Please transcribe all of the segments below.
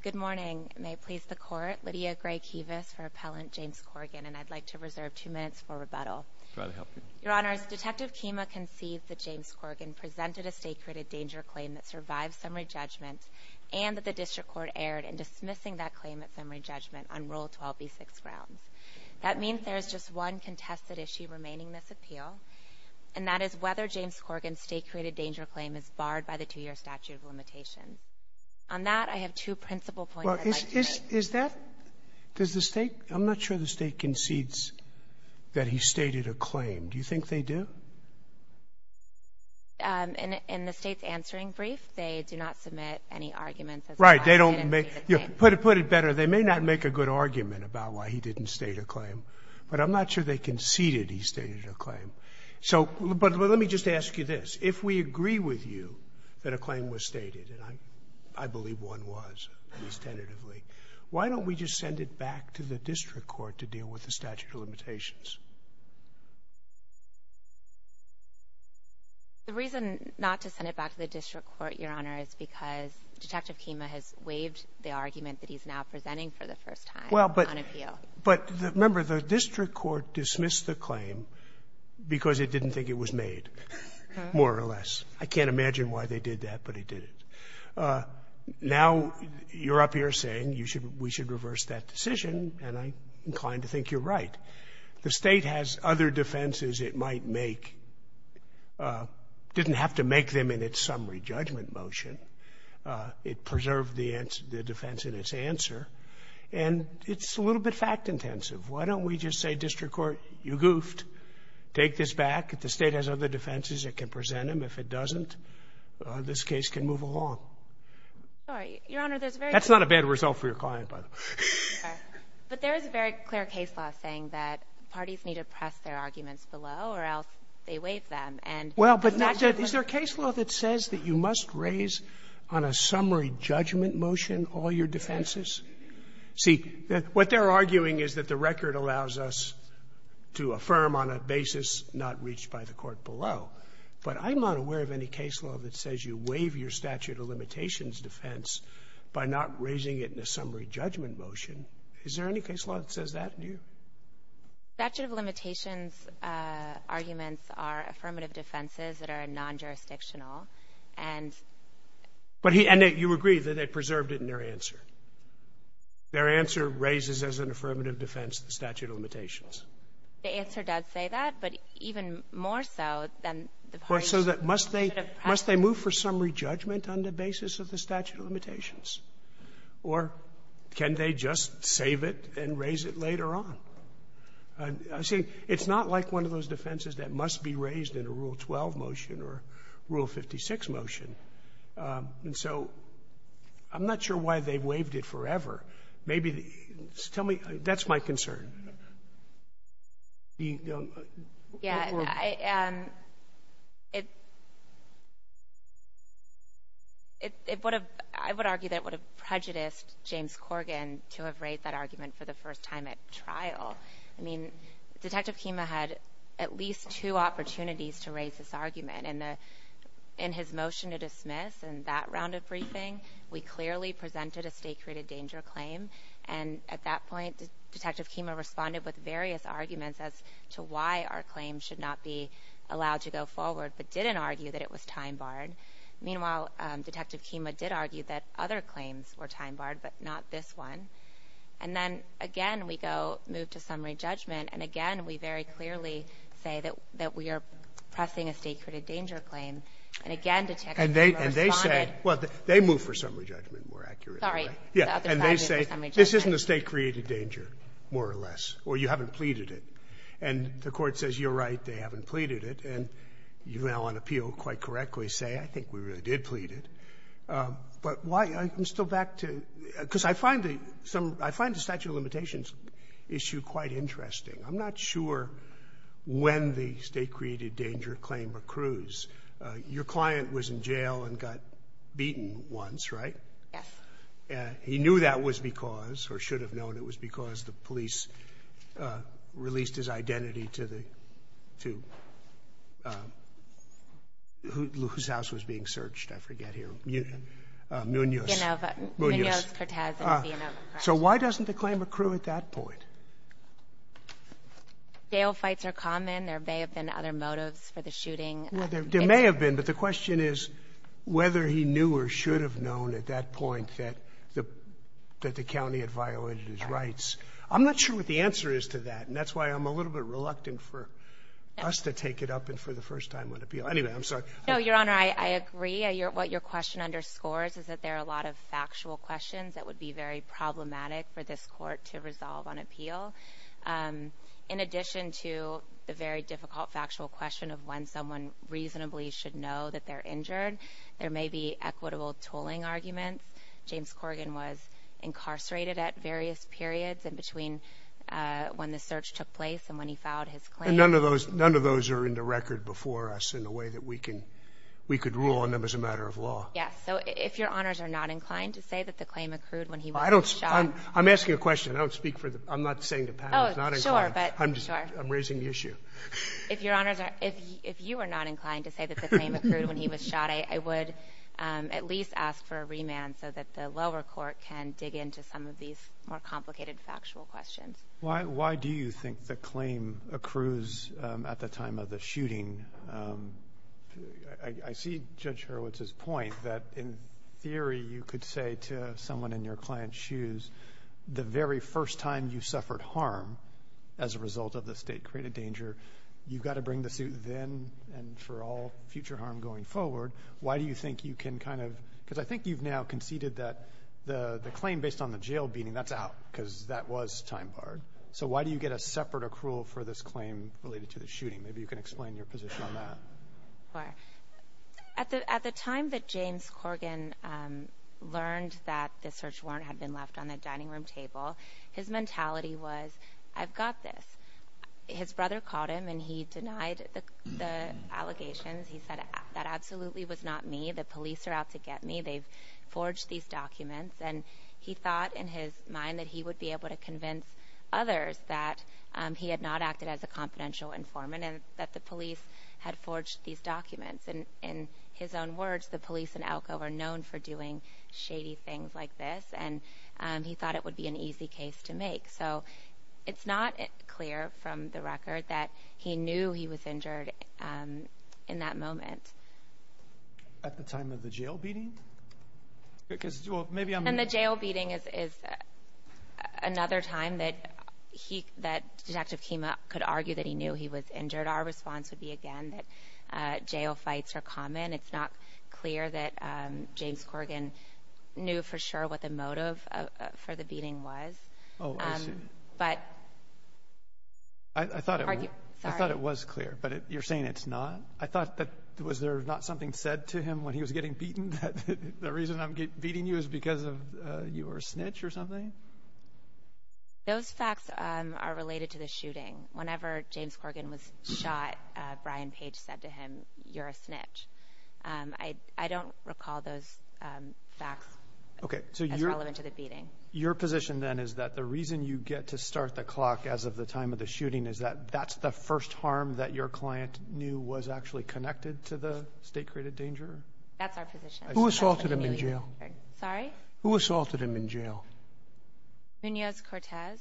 Good morning. May it please the Court, Lydia Gray Kevis for Appellant James Corgan, and I'd like to reserve two minutes for rebuttal. Your Honors, Detective Keema conceived that James Corgan presented a state-created danger claim that survived summary judgment and that the District Court erred in dismissing that claim at summary judgment on Rule 12b-6 grounds. That means there is just one contested issue remaining in this appeal, and that is whether James Corgan's state-created danger claim is barred by the two-year statute of limitations. On that, I have two principal points I'd like to make. Sotomayor Well, is that – does the State – I'm not sure the State concedes that he stated a claim. Do you think they do? Kevis In the State's answering brief, they do not submit any arguments as to why he didn't state a claim. Sotomayor Right. They don't make – put it better. They may not make a good argument about why he didn't state a claim, but I'm not sure they conceded he stated a claim. So – but let me just ask you this. If we agree with you that a claim was stated, and I believe one was, at least tentatively, why don't we just send it back to the District Court to deal with the statute of limitations? Kevis The reason not to send it back to the District Court, Your Honor, is because Detective Keema has waived the argument that he's now presenting for the first time on appeal. But remember, the District Court dismissed the claim because it didn't think it was made, more or less. I can't imagine why they did that, but it did. Now you're up here saying you should – we should reverse that decision, and I'm inclined to think you're right. The State has other defenses it might make. It didn't have to make them in its summary judgment motion. It preserved the defense in its answer. And it's a little bit fact-intensive. Why don't we just say, District Court, you goofed. Take this back. If the State has other defenses, it can present them. If it doesn't, this case can move along. That's not a bad result for your client, by the way. But there is a very clear case law saying that parties need to press their arguments below or else they waive them. Well, but is there a case law that says that you must raise on a summary judgment motion all your defenses? See, what they're arguing is that the record allows us to affirm on a basis not reached by the Court below. But I'm not aware of any case law that says you waive your statute of limitations defense by not raising it in a summary judgment motion. Is there any case law that says that to you? The statute of limitations arguments are affirmative defenses that are non-jurisdictional. And he — But he — and you agree that they preserved it in their answer. Their answer raises as an affirmative defense the statute of limitations. The answer does say that, but even more so than the parties should have pressed it. Well, so must they move for summary judgment on the basis of the statute of limitations? Or can they just save it and raise it later on? See, it's not like one of those defenses that must be raised in a Rule 12 motion or Rule 56 motion. And so I'm not sure why they waived it forever. Maybe the — tell me. That's my concern. Yeah. It would have — I would argue that it would have prejudiced James Corgan to have raised that argument for the first time at trial. I mean, Detective Kima had at least two opportunities to raise this argument. And in his motion to dismiss in that round of briefing, we clearly presented a state-created danger claim. And at that point, Detective Kima responded with various arguments as to why our claim should not be allowed to go forward, but didn't argue that it was time-barred. Meanwhile, Detective Kima did argue that other claims were time-barred, but not this one. And then, again, we go — move to summary judgment, and, again, we very clearly say that — that we are pressing a state-created danger claim. And, again, Detective Kima responded — And they — and they say — well, they move for summary judgment more accurately. Sorry. The other side is for summary judgment. This isn't a state-created danger, more or less, or you haven't pleaded it. And the Court says, you're right, they haven't pleaded it. And you now on appeal quite correctly say, I think we really did plead it. But why — I'm still back to — because I find the — I find the statute of limitations issue quite interesting. I'm not sure when the state-created danger claim accrues. Your client was in jail and got beaten once, right? Yes. He knew that was because — or should have known it was because the police released his identity to the — to whose house was being searched? I forget here. Munoz. Munoz. Munoz, Cortez, and Villanueva. So why doesn't the claim accrue at that point? Jail fights are common. There may have been other motives for the shooting. Well, there may have been, but the question is whether he knew or should have known at that point that the — that the county had violated his rights. I'm not sure what the answer is to that, and that's why I'm a little bit reluctant for us to take it up and for the first time on appeal. Anyway, I'm sorry. No, Your Honor, I agree. What your question underscores is that there are a lot of factual questions that would be very problematic for this Court to resolve on appeal. In addition to the very difficult factual question of when someone reasonably should know that they're injured, there may be equitable tooling arguments. James Corgan was incarcerated at various periods in between when the search took place and when he filed his claim. And none of those — none of those are in the record before us in a way that we can — we could rule on them as a matter of law. Yes. So if Your Honors are not inclined to say that the claim accrued when he was shot — Well, I don't — I'm asking a question. I don't speak for the — I'm not saying to Pat. Oh, sure, but — I'm just — I'm raising the issue. If Your Honors are — if you are not inclined to say that the claim accrued when he was shot, I would at least ask for a remand so that the lower court can dig into some of these more complicated factual questions. Why do you think the claim accrues at the time of the shooting? I see Judge Hurwitz's point that in theory you could say to someone in your client's shoes, the very first time you suffered harm as a result of the state-created danger, you've got to bring the suit then and for all future harm going forward. Why do you think you can kind of — because I think you've now conceded that the claim based on the jail beating, that's out because that was time-barred. So why do you get a separate accrual for this claim related to the shooting? Maybe you can explain your position on that. Sure. At the time that James Corgan learned that the search warrant had been left on the dining room table, his mentality was, I've got this. His brother called him and he denied the allegations. He said, that absolutely was not me. The police are out to get me. They've forged these documents. And he thought in his mind that he would be able to convince others that he had not acted as a confidential informant and that the police had forged these documents. In his own words, the police in Elko are known for doing shady things like this, and he thought it would be an easy case to make. So it's not clear from the record that he knew he was injured in that moment. At the time of the jail beating? And the jail beating is another time that Detective Kima could argue that he knew he was injured. Our response would be, again, that jail fights are common. It's not clear that James Corgan knew for sure what the motive for the beating was. I thought it was clear, but you're saying it's not? I thought that was there not something said to him when he was getting beaten, that the reason I'm beating you is because you were a snitch or something? Those facts are related to the shooting. Whenever James Corgan was shot, Brian Page said to him, you're a snitch. I don't recall those facts as relevant to the beating. Your position then is that the reason you get to start the clock as of the time of the shooting is that that's the first harm that your client knew was actually connected to the state-created danger? That's our position. Who assaulted him in jail? Sorry? Who assaulted him in jail? Munoz Cortez.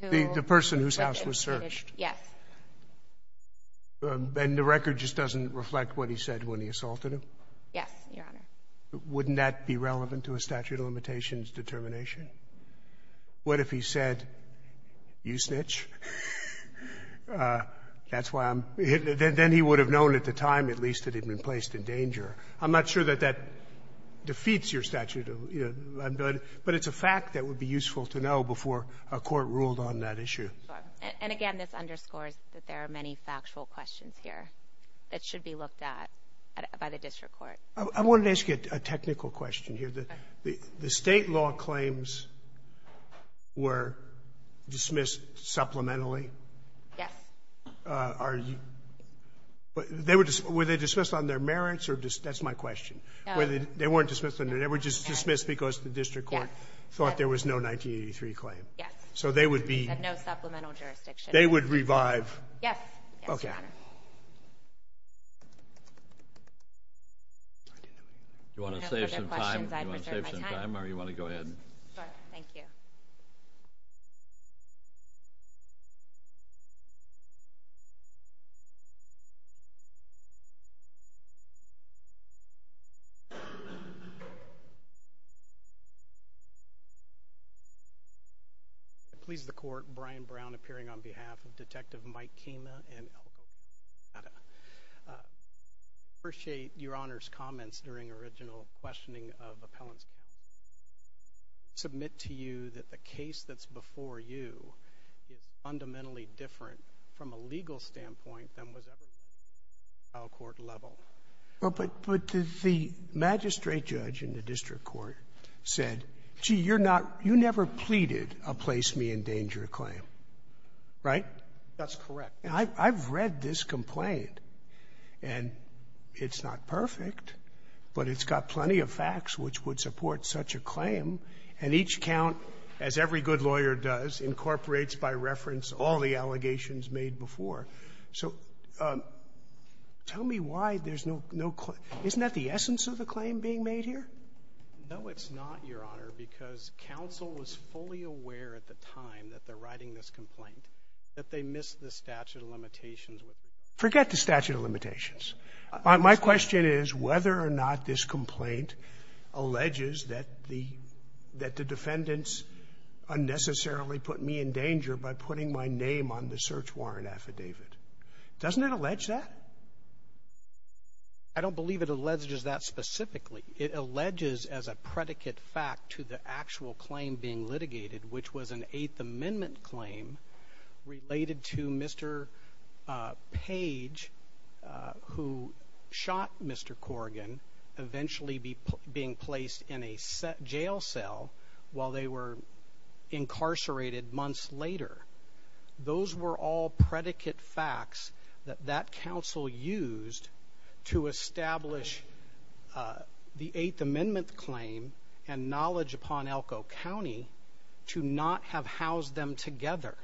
The person whose house was searched? Yes. And the record just doesn't reflect what he said when he assaulted him? Yes, Your Honor. Wouldn't that be relevant to a statute of limitations determination? What if he said, you snitch? That's why I'm hitting it. Then he would have known at the time, at least, that he'd been placed in danger. I'm not sure that that defeats your statute, but it's a fact that would be useful to know before a court ruled on that issue. Sure. And again, this underscores that there are many factual questions here that should be looked at by the district court. I wanted to ask you a technical question here. Okay. The state law claims were dismissed supplementarily? Yes. Were they dismissed on their merits? That's my question. They weren't dismissed on their merits? They were just dismissed because the district court thought there was no 1983 claim? Yes. So they would be— No supplemental jurisdiction. They would revive— Yes, Your Honor. Okay. Do you want to save some time? Do you want to save some time or do you want to go ahead? Thank you. I please the court, Brian Brown, appearing on behalf of Detective Mike Kima and Elko Kata. I appreciate Your Honor's comments during original questioning of appellants. I submit to you that the case that's before you is fundamentally different from a legal standpoint than was ever before at the trial court level. Well, but the magistrate judge in the district court said, gee, you're not — you never pleaded a place-me-in-danger claim, right? That's correct. I've read this complaint, and it's not perfect, but it's got plenty of facts which would support such a claim, and each count, as every good lawyer does, incorporates by reference all the allegations made before. So tell me why there's no — isn't that the essence of the claim being made here? No, it's not, Your Honor, because counsel was fully aware at the time that they're writing this complaint that they missed the statute of limitations. Forget the statute of limitations. My question is whether or not this complaint alleges that the — that the defendants unnecessarily put me in danger by putting my name on the search warrant affidavit. Doesn't it allege that? I don't believe it alleges that specifically. It alleges as a predicate fact to the actual claim being litigated, which was an Eighth Amendment officer, Page, who shot Mr. Corrigan, eventually being placed in a jail cell while they were incarcerated months later. Those were all predicate facts that that counsel used to establish the Eighth Amendment claim and knowledge upon Elko County to not have housed them together.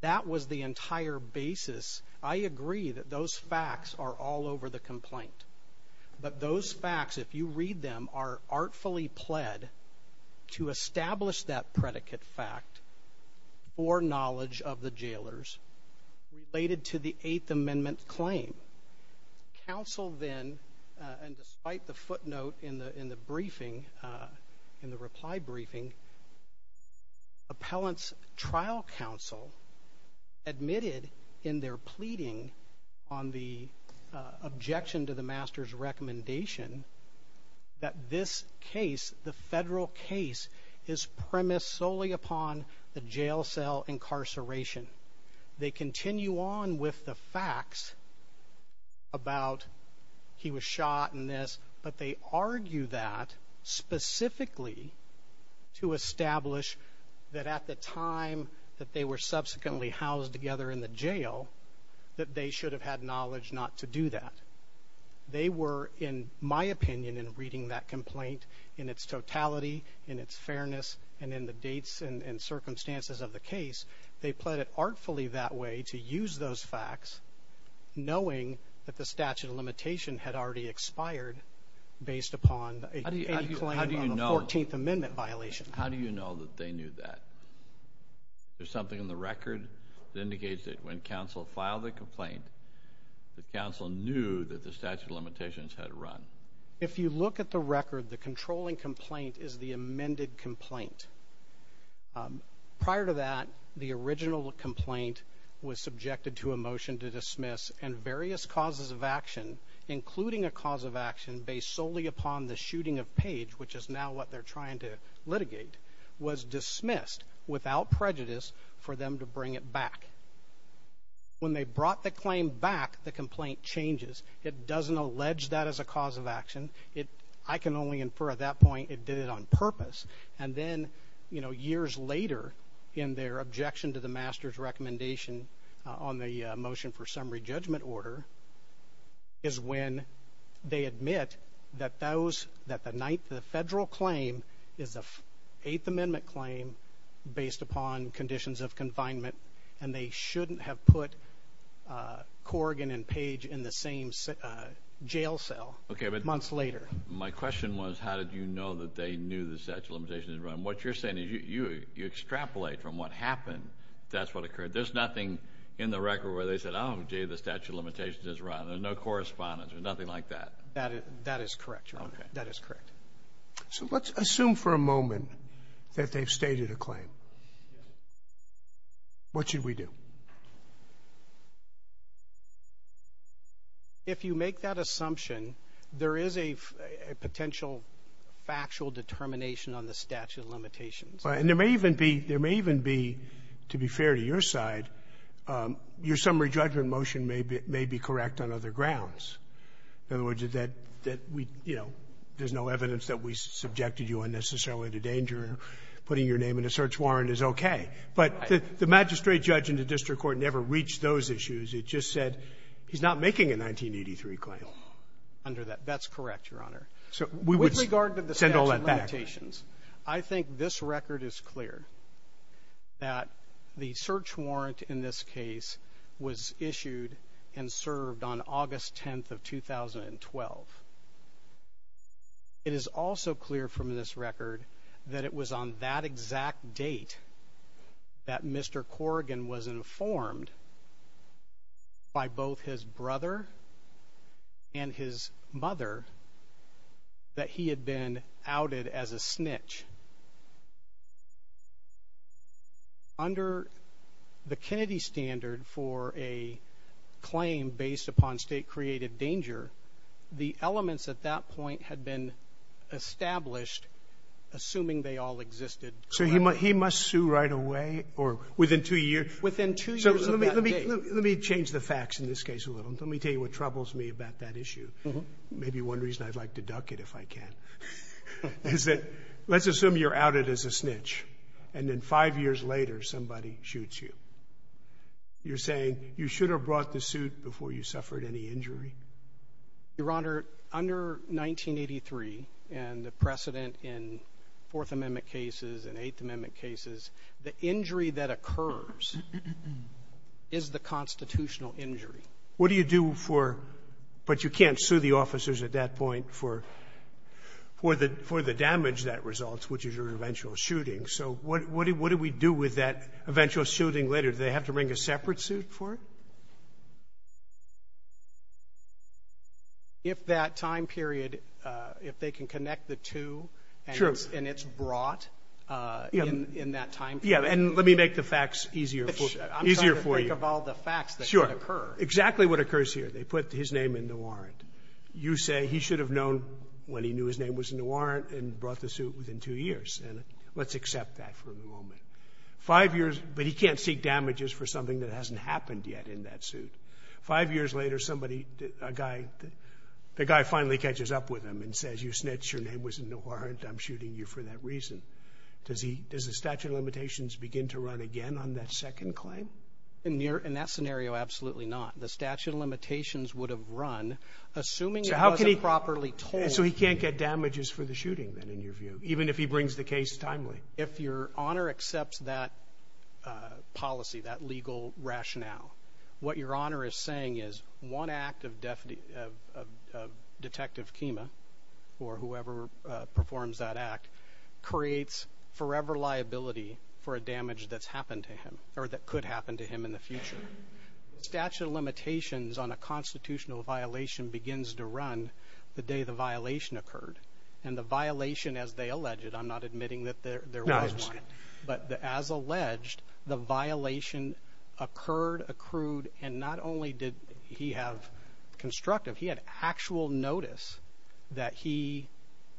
That was the entire basis. I agree that those facts are all over the complaint, but those facts, if you read them, are artfully pled to establish that predicate fact for knowledge of the jailers related to the Eighth Amendment claim. Counsel then, and despite the footnote in the briefing, in the reply briefing, appellant's trial counsel admitted in their pleading on the objection to the master's recommendation that this case, the federal case, is premised solely upon the jail cell incarceration. They continue on with the facts about he was shot and this, but they argue that specifically to establish that at the time that they were subsequently housed together in the jail, that they should have had knowledge not to do that. They were, in my opinion, in reading that complaint in its totality, in its fairness, and in the dates and circumstances of the case, they pled it artfully that way to use those facts, knowing that the statute of limitation had already expired based upon any claim on the Fourteenth Amendment violation. How do you know that they knew that? There's something in the record that indicates that when counsel filed the complaint, that counsel knew that the statute of limitations had run. If you look at the record, the controlling complaint is the amended complaint. Prior to that, the original complaint was subjected to a motion to dismiss, and various causes of action, including a cause of action based solely upon the shooting of Page, which is now what they're trying to litigate, was dismissed without prejudice for them to bring it back. When they brought the claim back, the complaint changes. It doesn't allege that as a cause of action. I can only infer at that point it did it on purpose. And then, you know, years later, in their objection to the master's recommendation on the motion for summary judgment order, is when they admit that the ninth federal claim is the Eighth Amendment claim based upon conditions of confinement, and they shouldn't have put Corrigan and Page in the same jail cell months later. My question was, how did you know that they knew the statute of limitations had run? What you're saying is you extrapolate from what happened. That's what occurred. There's nothing in the record where they said, oh, gee, the statute of limitations has run. There's no correspondence. There's nothing like that. That is correct, Your Honor. Okay. That is correct. So let's assume for a moment that they've stated a claim. What should we do? If you make that assumption, there is a potential factual determination on the statute of limitations. And there may even be to be fair to your side, your summary judgment motion may be correct on other grounds. In other words, that we, you know, there's no evidence that we subjected you unnecessarily to danger. Putting your name in a search warrant is okay. But the magistrate judge in the district court never reached those issues. It just said he's not making a 1983 claim. Under that, that's correct, Your Honor. So we would send all that back. With regard to the statute of limitations, I think this record is clear, that the It is also clear from this record that it was on that exact date that Mr. Corrigan was informed by both his brother and his mother that he had been outed as a snitch. Under the Kennedy standard for a claim based upon State creative danger, the elements at that point had been established, assuming they all existed. So he must sue right away or within two years? Within two years of that date. Let me change the facts in this case a little. Let me tell you what troubles me about that issue. Maybe one reason I'd like to duck it, if I can. Let's assume you're outed as a snitch, and then five years later somebody shoots you. You're saying you should have brought the suit before you suffered any injury? Your Honor, under 1983 and the precedent in Fourth Amendment cases and Eighth Amendment cases, the injury that occurs is the constitutional injury. What do you do for, but you can't sue the officers at that point for the damage that results, which is your eventual shooting. So what do we do with that eventual shooting later? Do they have to bring a separate suit for it? If that time period, if they can connect the two and it's brought in that time period. Yeah, and let me make the facts easier for you. I'm trying to think of all the facts that could occur. Exactly what occurs here. They put his name in the warrant. You say he should have known when he knew his name was in the warrant and brought the suit within two years. And let's accept that for the moment. Five years, but he can't seek damages for something that hasn't happened yet in that suit. Five years later, somebody, a guy, the guy finally catches up with him and says, you snitch, your name was in the warrant, I'm shooting you for that reason. Does the statute of limitations begin to run again on that second claim? In that scenario, absolutely not. The statute of limitations would have run, assuming it wasn't properly told. So he can't get damages for the shooting, then, in your view, even if he brings the case timely. If your honor accepts that policy, that legal rationale, what your honor is saying is one act of detective Kima, or whoever performs that act, creates forever liability for a crime that could happen to him in the future. The statute of limitations on a constitutional violation begins to run the day the violation occurred. And the violation, as they alleged, I'm not admitting that there was one, but as alleged, the violation occurred, accrued, and not only did he have constructive, he had actual notice that he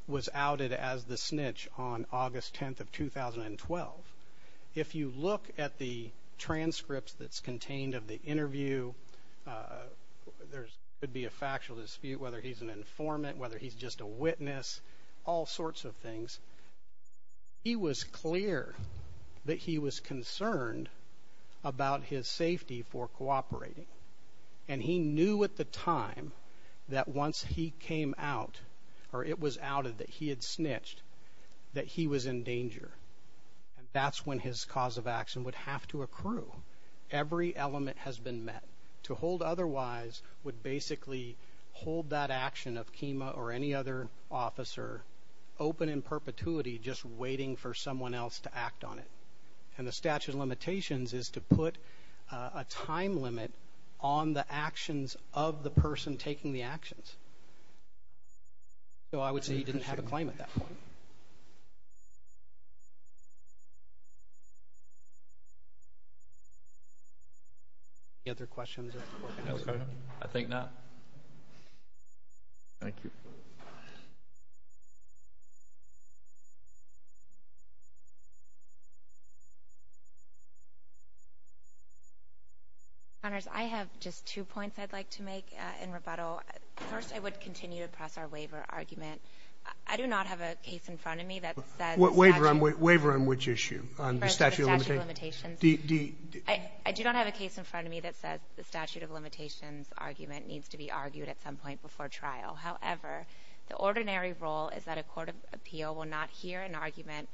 was outed as the snitch on August 10th of 2012. If you look at the transcripts that's contained of the interview, there could be a factual dispute, whether he's an informant, whether he's just a witness, all sorts of things. He was clear that he was concerned about his safety for cooperating, and he knew at the time that once he came out, or it was outed, that he had snitched, that he was in danger. And that's when his cause of action would have to accrue. Every element has been met. To hold otherwise would basically hold that action of Kima or any other officer open in perpetuity, just waiting for someone else to act on it. And the statute of limitations is to put a time limit on the actions of the person taking the actions. So I would say he didn't have a claim at that point. Any other questions? I think not. Thank you. Ms. Connors, I have just two points I'd like to make in rebuttal. First, I would continue to press our waiver argument. I do not have a case in front of me that says statute of limitations. Waiver on which issue, on the statute of limitations? I do not have a case in front of me that says the statute of limitations argument needs to be argued at some point before trial. However, the ordinary rule is that a court of appeal will not hear an argument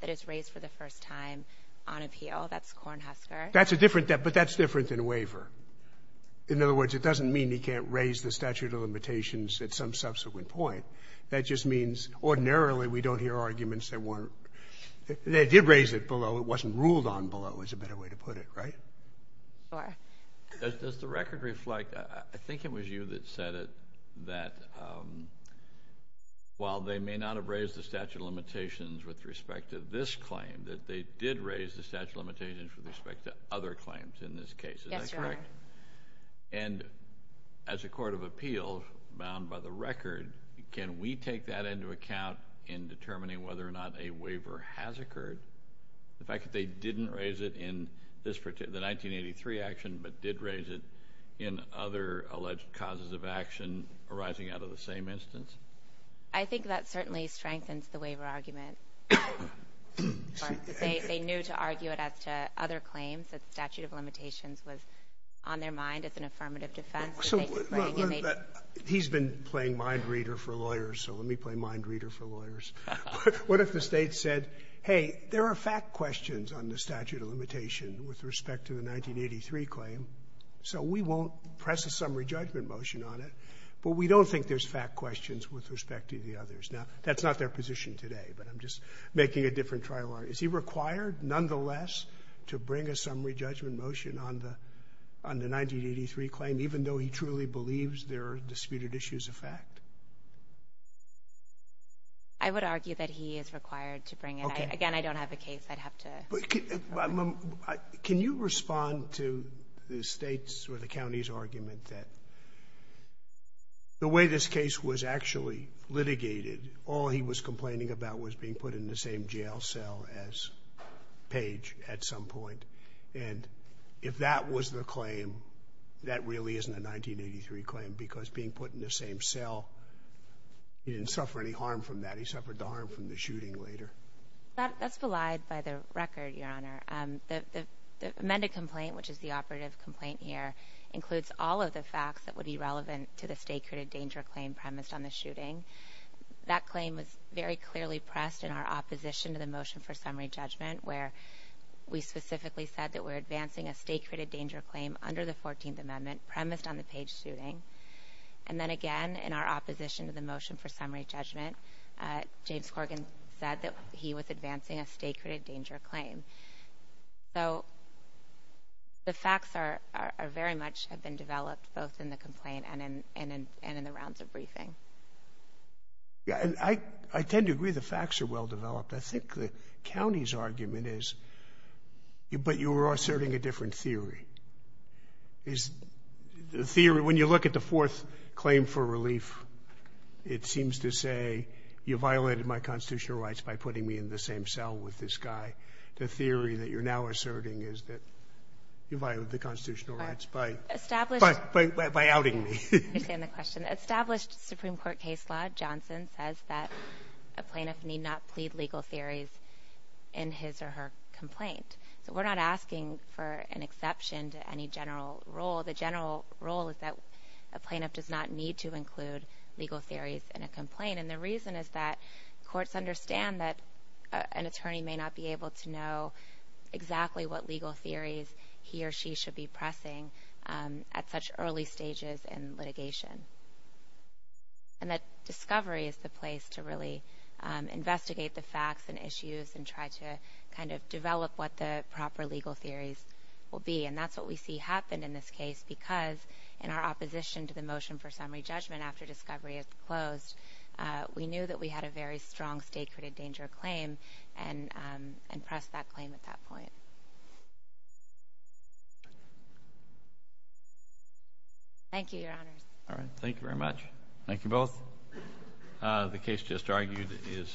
that is raised for the first time on appeal. That's Cornhusker. But that's different than waiver. In other words, it doesn't mean he can't raise the statute of limitations at some subsequent point. That just means ordinarily we don't hear arguments that weren't. They did raise it below. It wasn't ruled on below, is a better way to put it, right? Sure. Does the record reflect? I think it was you that said it, that while they may not have raised the statute of limitations with respect to this claim, that they did raise the statute of limitations with respect to other claims in this case. Is that correct? Yes, Your Honor. And as a court of appeal bound by the record, can we take that into account in determining whether or not a waiver has occurred? The fact that they didn't raise it in the 1983 action but did raise it in other alleged causes of action arising out of the same instance? I think that certainly strengthens the waiver argument. They knew to argue it as to other claims. The statute of limitations was on their mind as an affirmative defense. He's been playing mind reader for lawyers, so let me play mind reader for lawyers. What if the State said, hey, there are fact questions on the statute of limitation with respect to the 1983 claim, so we won't press a summary judgment motion on it, but we don't think there's fact questions with respect to the others. Now, that's not their position today, but I'm just making a different trial argument. Is he required, nonetheless, to bring a summary judgment motion on the 1983 claim even though he truly believes there are disputed issues of fact? I would argue that he is required to bring it. Again, I don't have a case I'd have to argue. Can you respond to the State's or the county's argument that the way this case was actually litigated, all he was complaining about was being put in the same jail cell as Page at some point, and if that was the claim, that really isn't a 1983 claim because being put in the same cell, he didn't suffer any harm from that. He suffered the harm from the shooting later. That's belied by the record, Your Honor. The amended complaint, which is the operative complaint here, includes all of the facts that would be relevant to the state-created danger claim premised on the shooting. That claim was very clearly pressed in our opposition to the motion for summary judgment where we specifically said that we're advancing a state-created danger claim under the 14th Amendment premised on the Page shooting. And then again, in our opposition to the motion for summary judgment, James Corgan said that he was advancing a state-created danger claim. So the facts very much have been developed both in the complaint and in the rounds of briefing. I tend to agree the facts are well-developed. I think the county's argument is, but you're asserting a different theory. When you look at the fourth claim for relief, it seems to say, you violated my constitutional rights by putting me in the same cell with this guy. The theory that you're now asserting is that you violated the constitutional rights by outing me. I understand the question. An established Supreme Court case law, Johnson, says that a plaintiff need not plead legal theories in his or her complaint. So we're not asking for an exception to any general rule. The general rule is that a plaintiff does not need to include legal theories in a complaint. And the reason is that courts understand that an attorney may not be able to know and that discovery is the place to really investigate the facts and issues and try to kind of develop what the proper legal theories will be. And that's what we see happen in this case because in our opposition to the motion for summary judgment after discovery is closed, we knew that we had a very strong state-created danger claim and pressed that claim at that point. Thank you, Your Honors. All right. Thank you very much. Thank you both. The case just argued is submitted.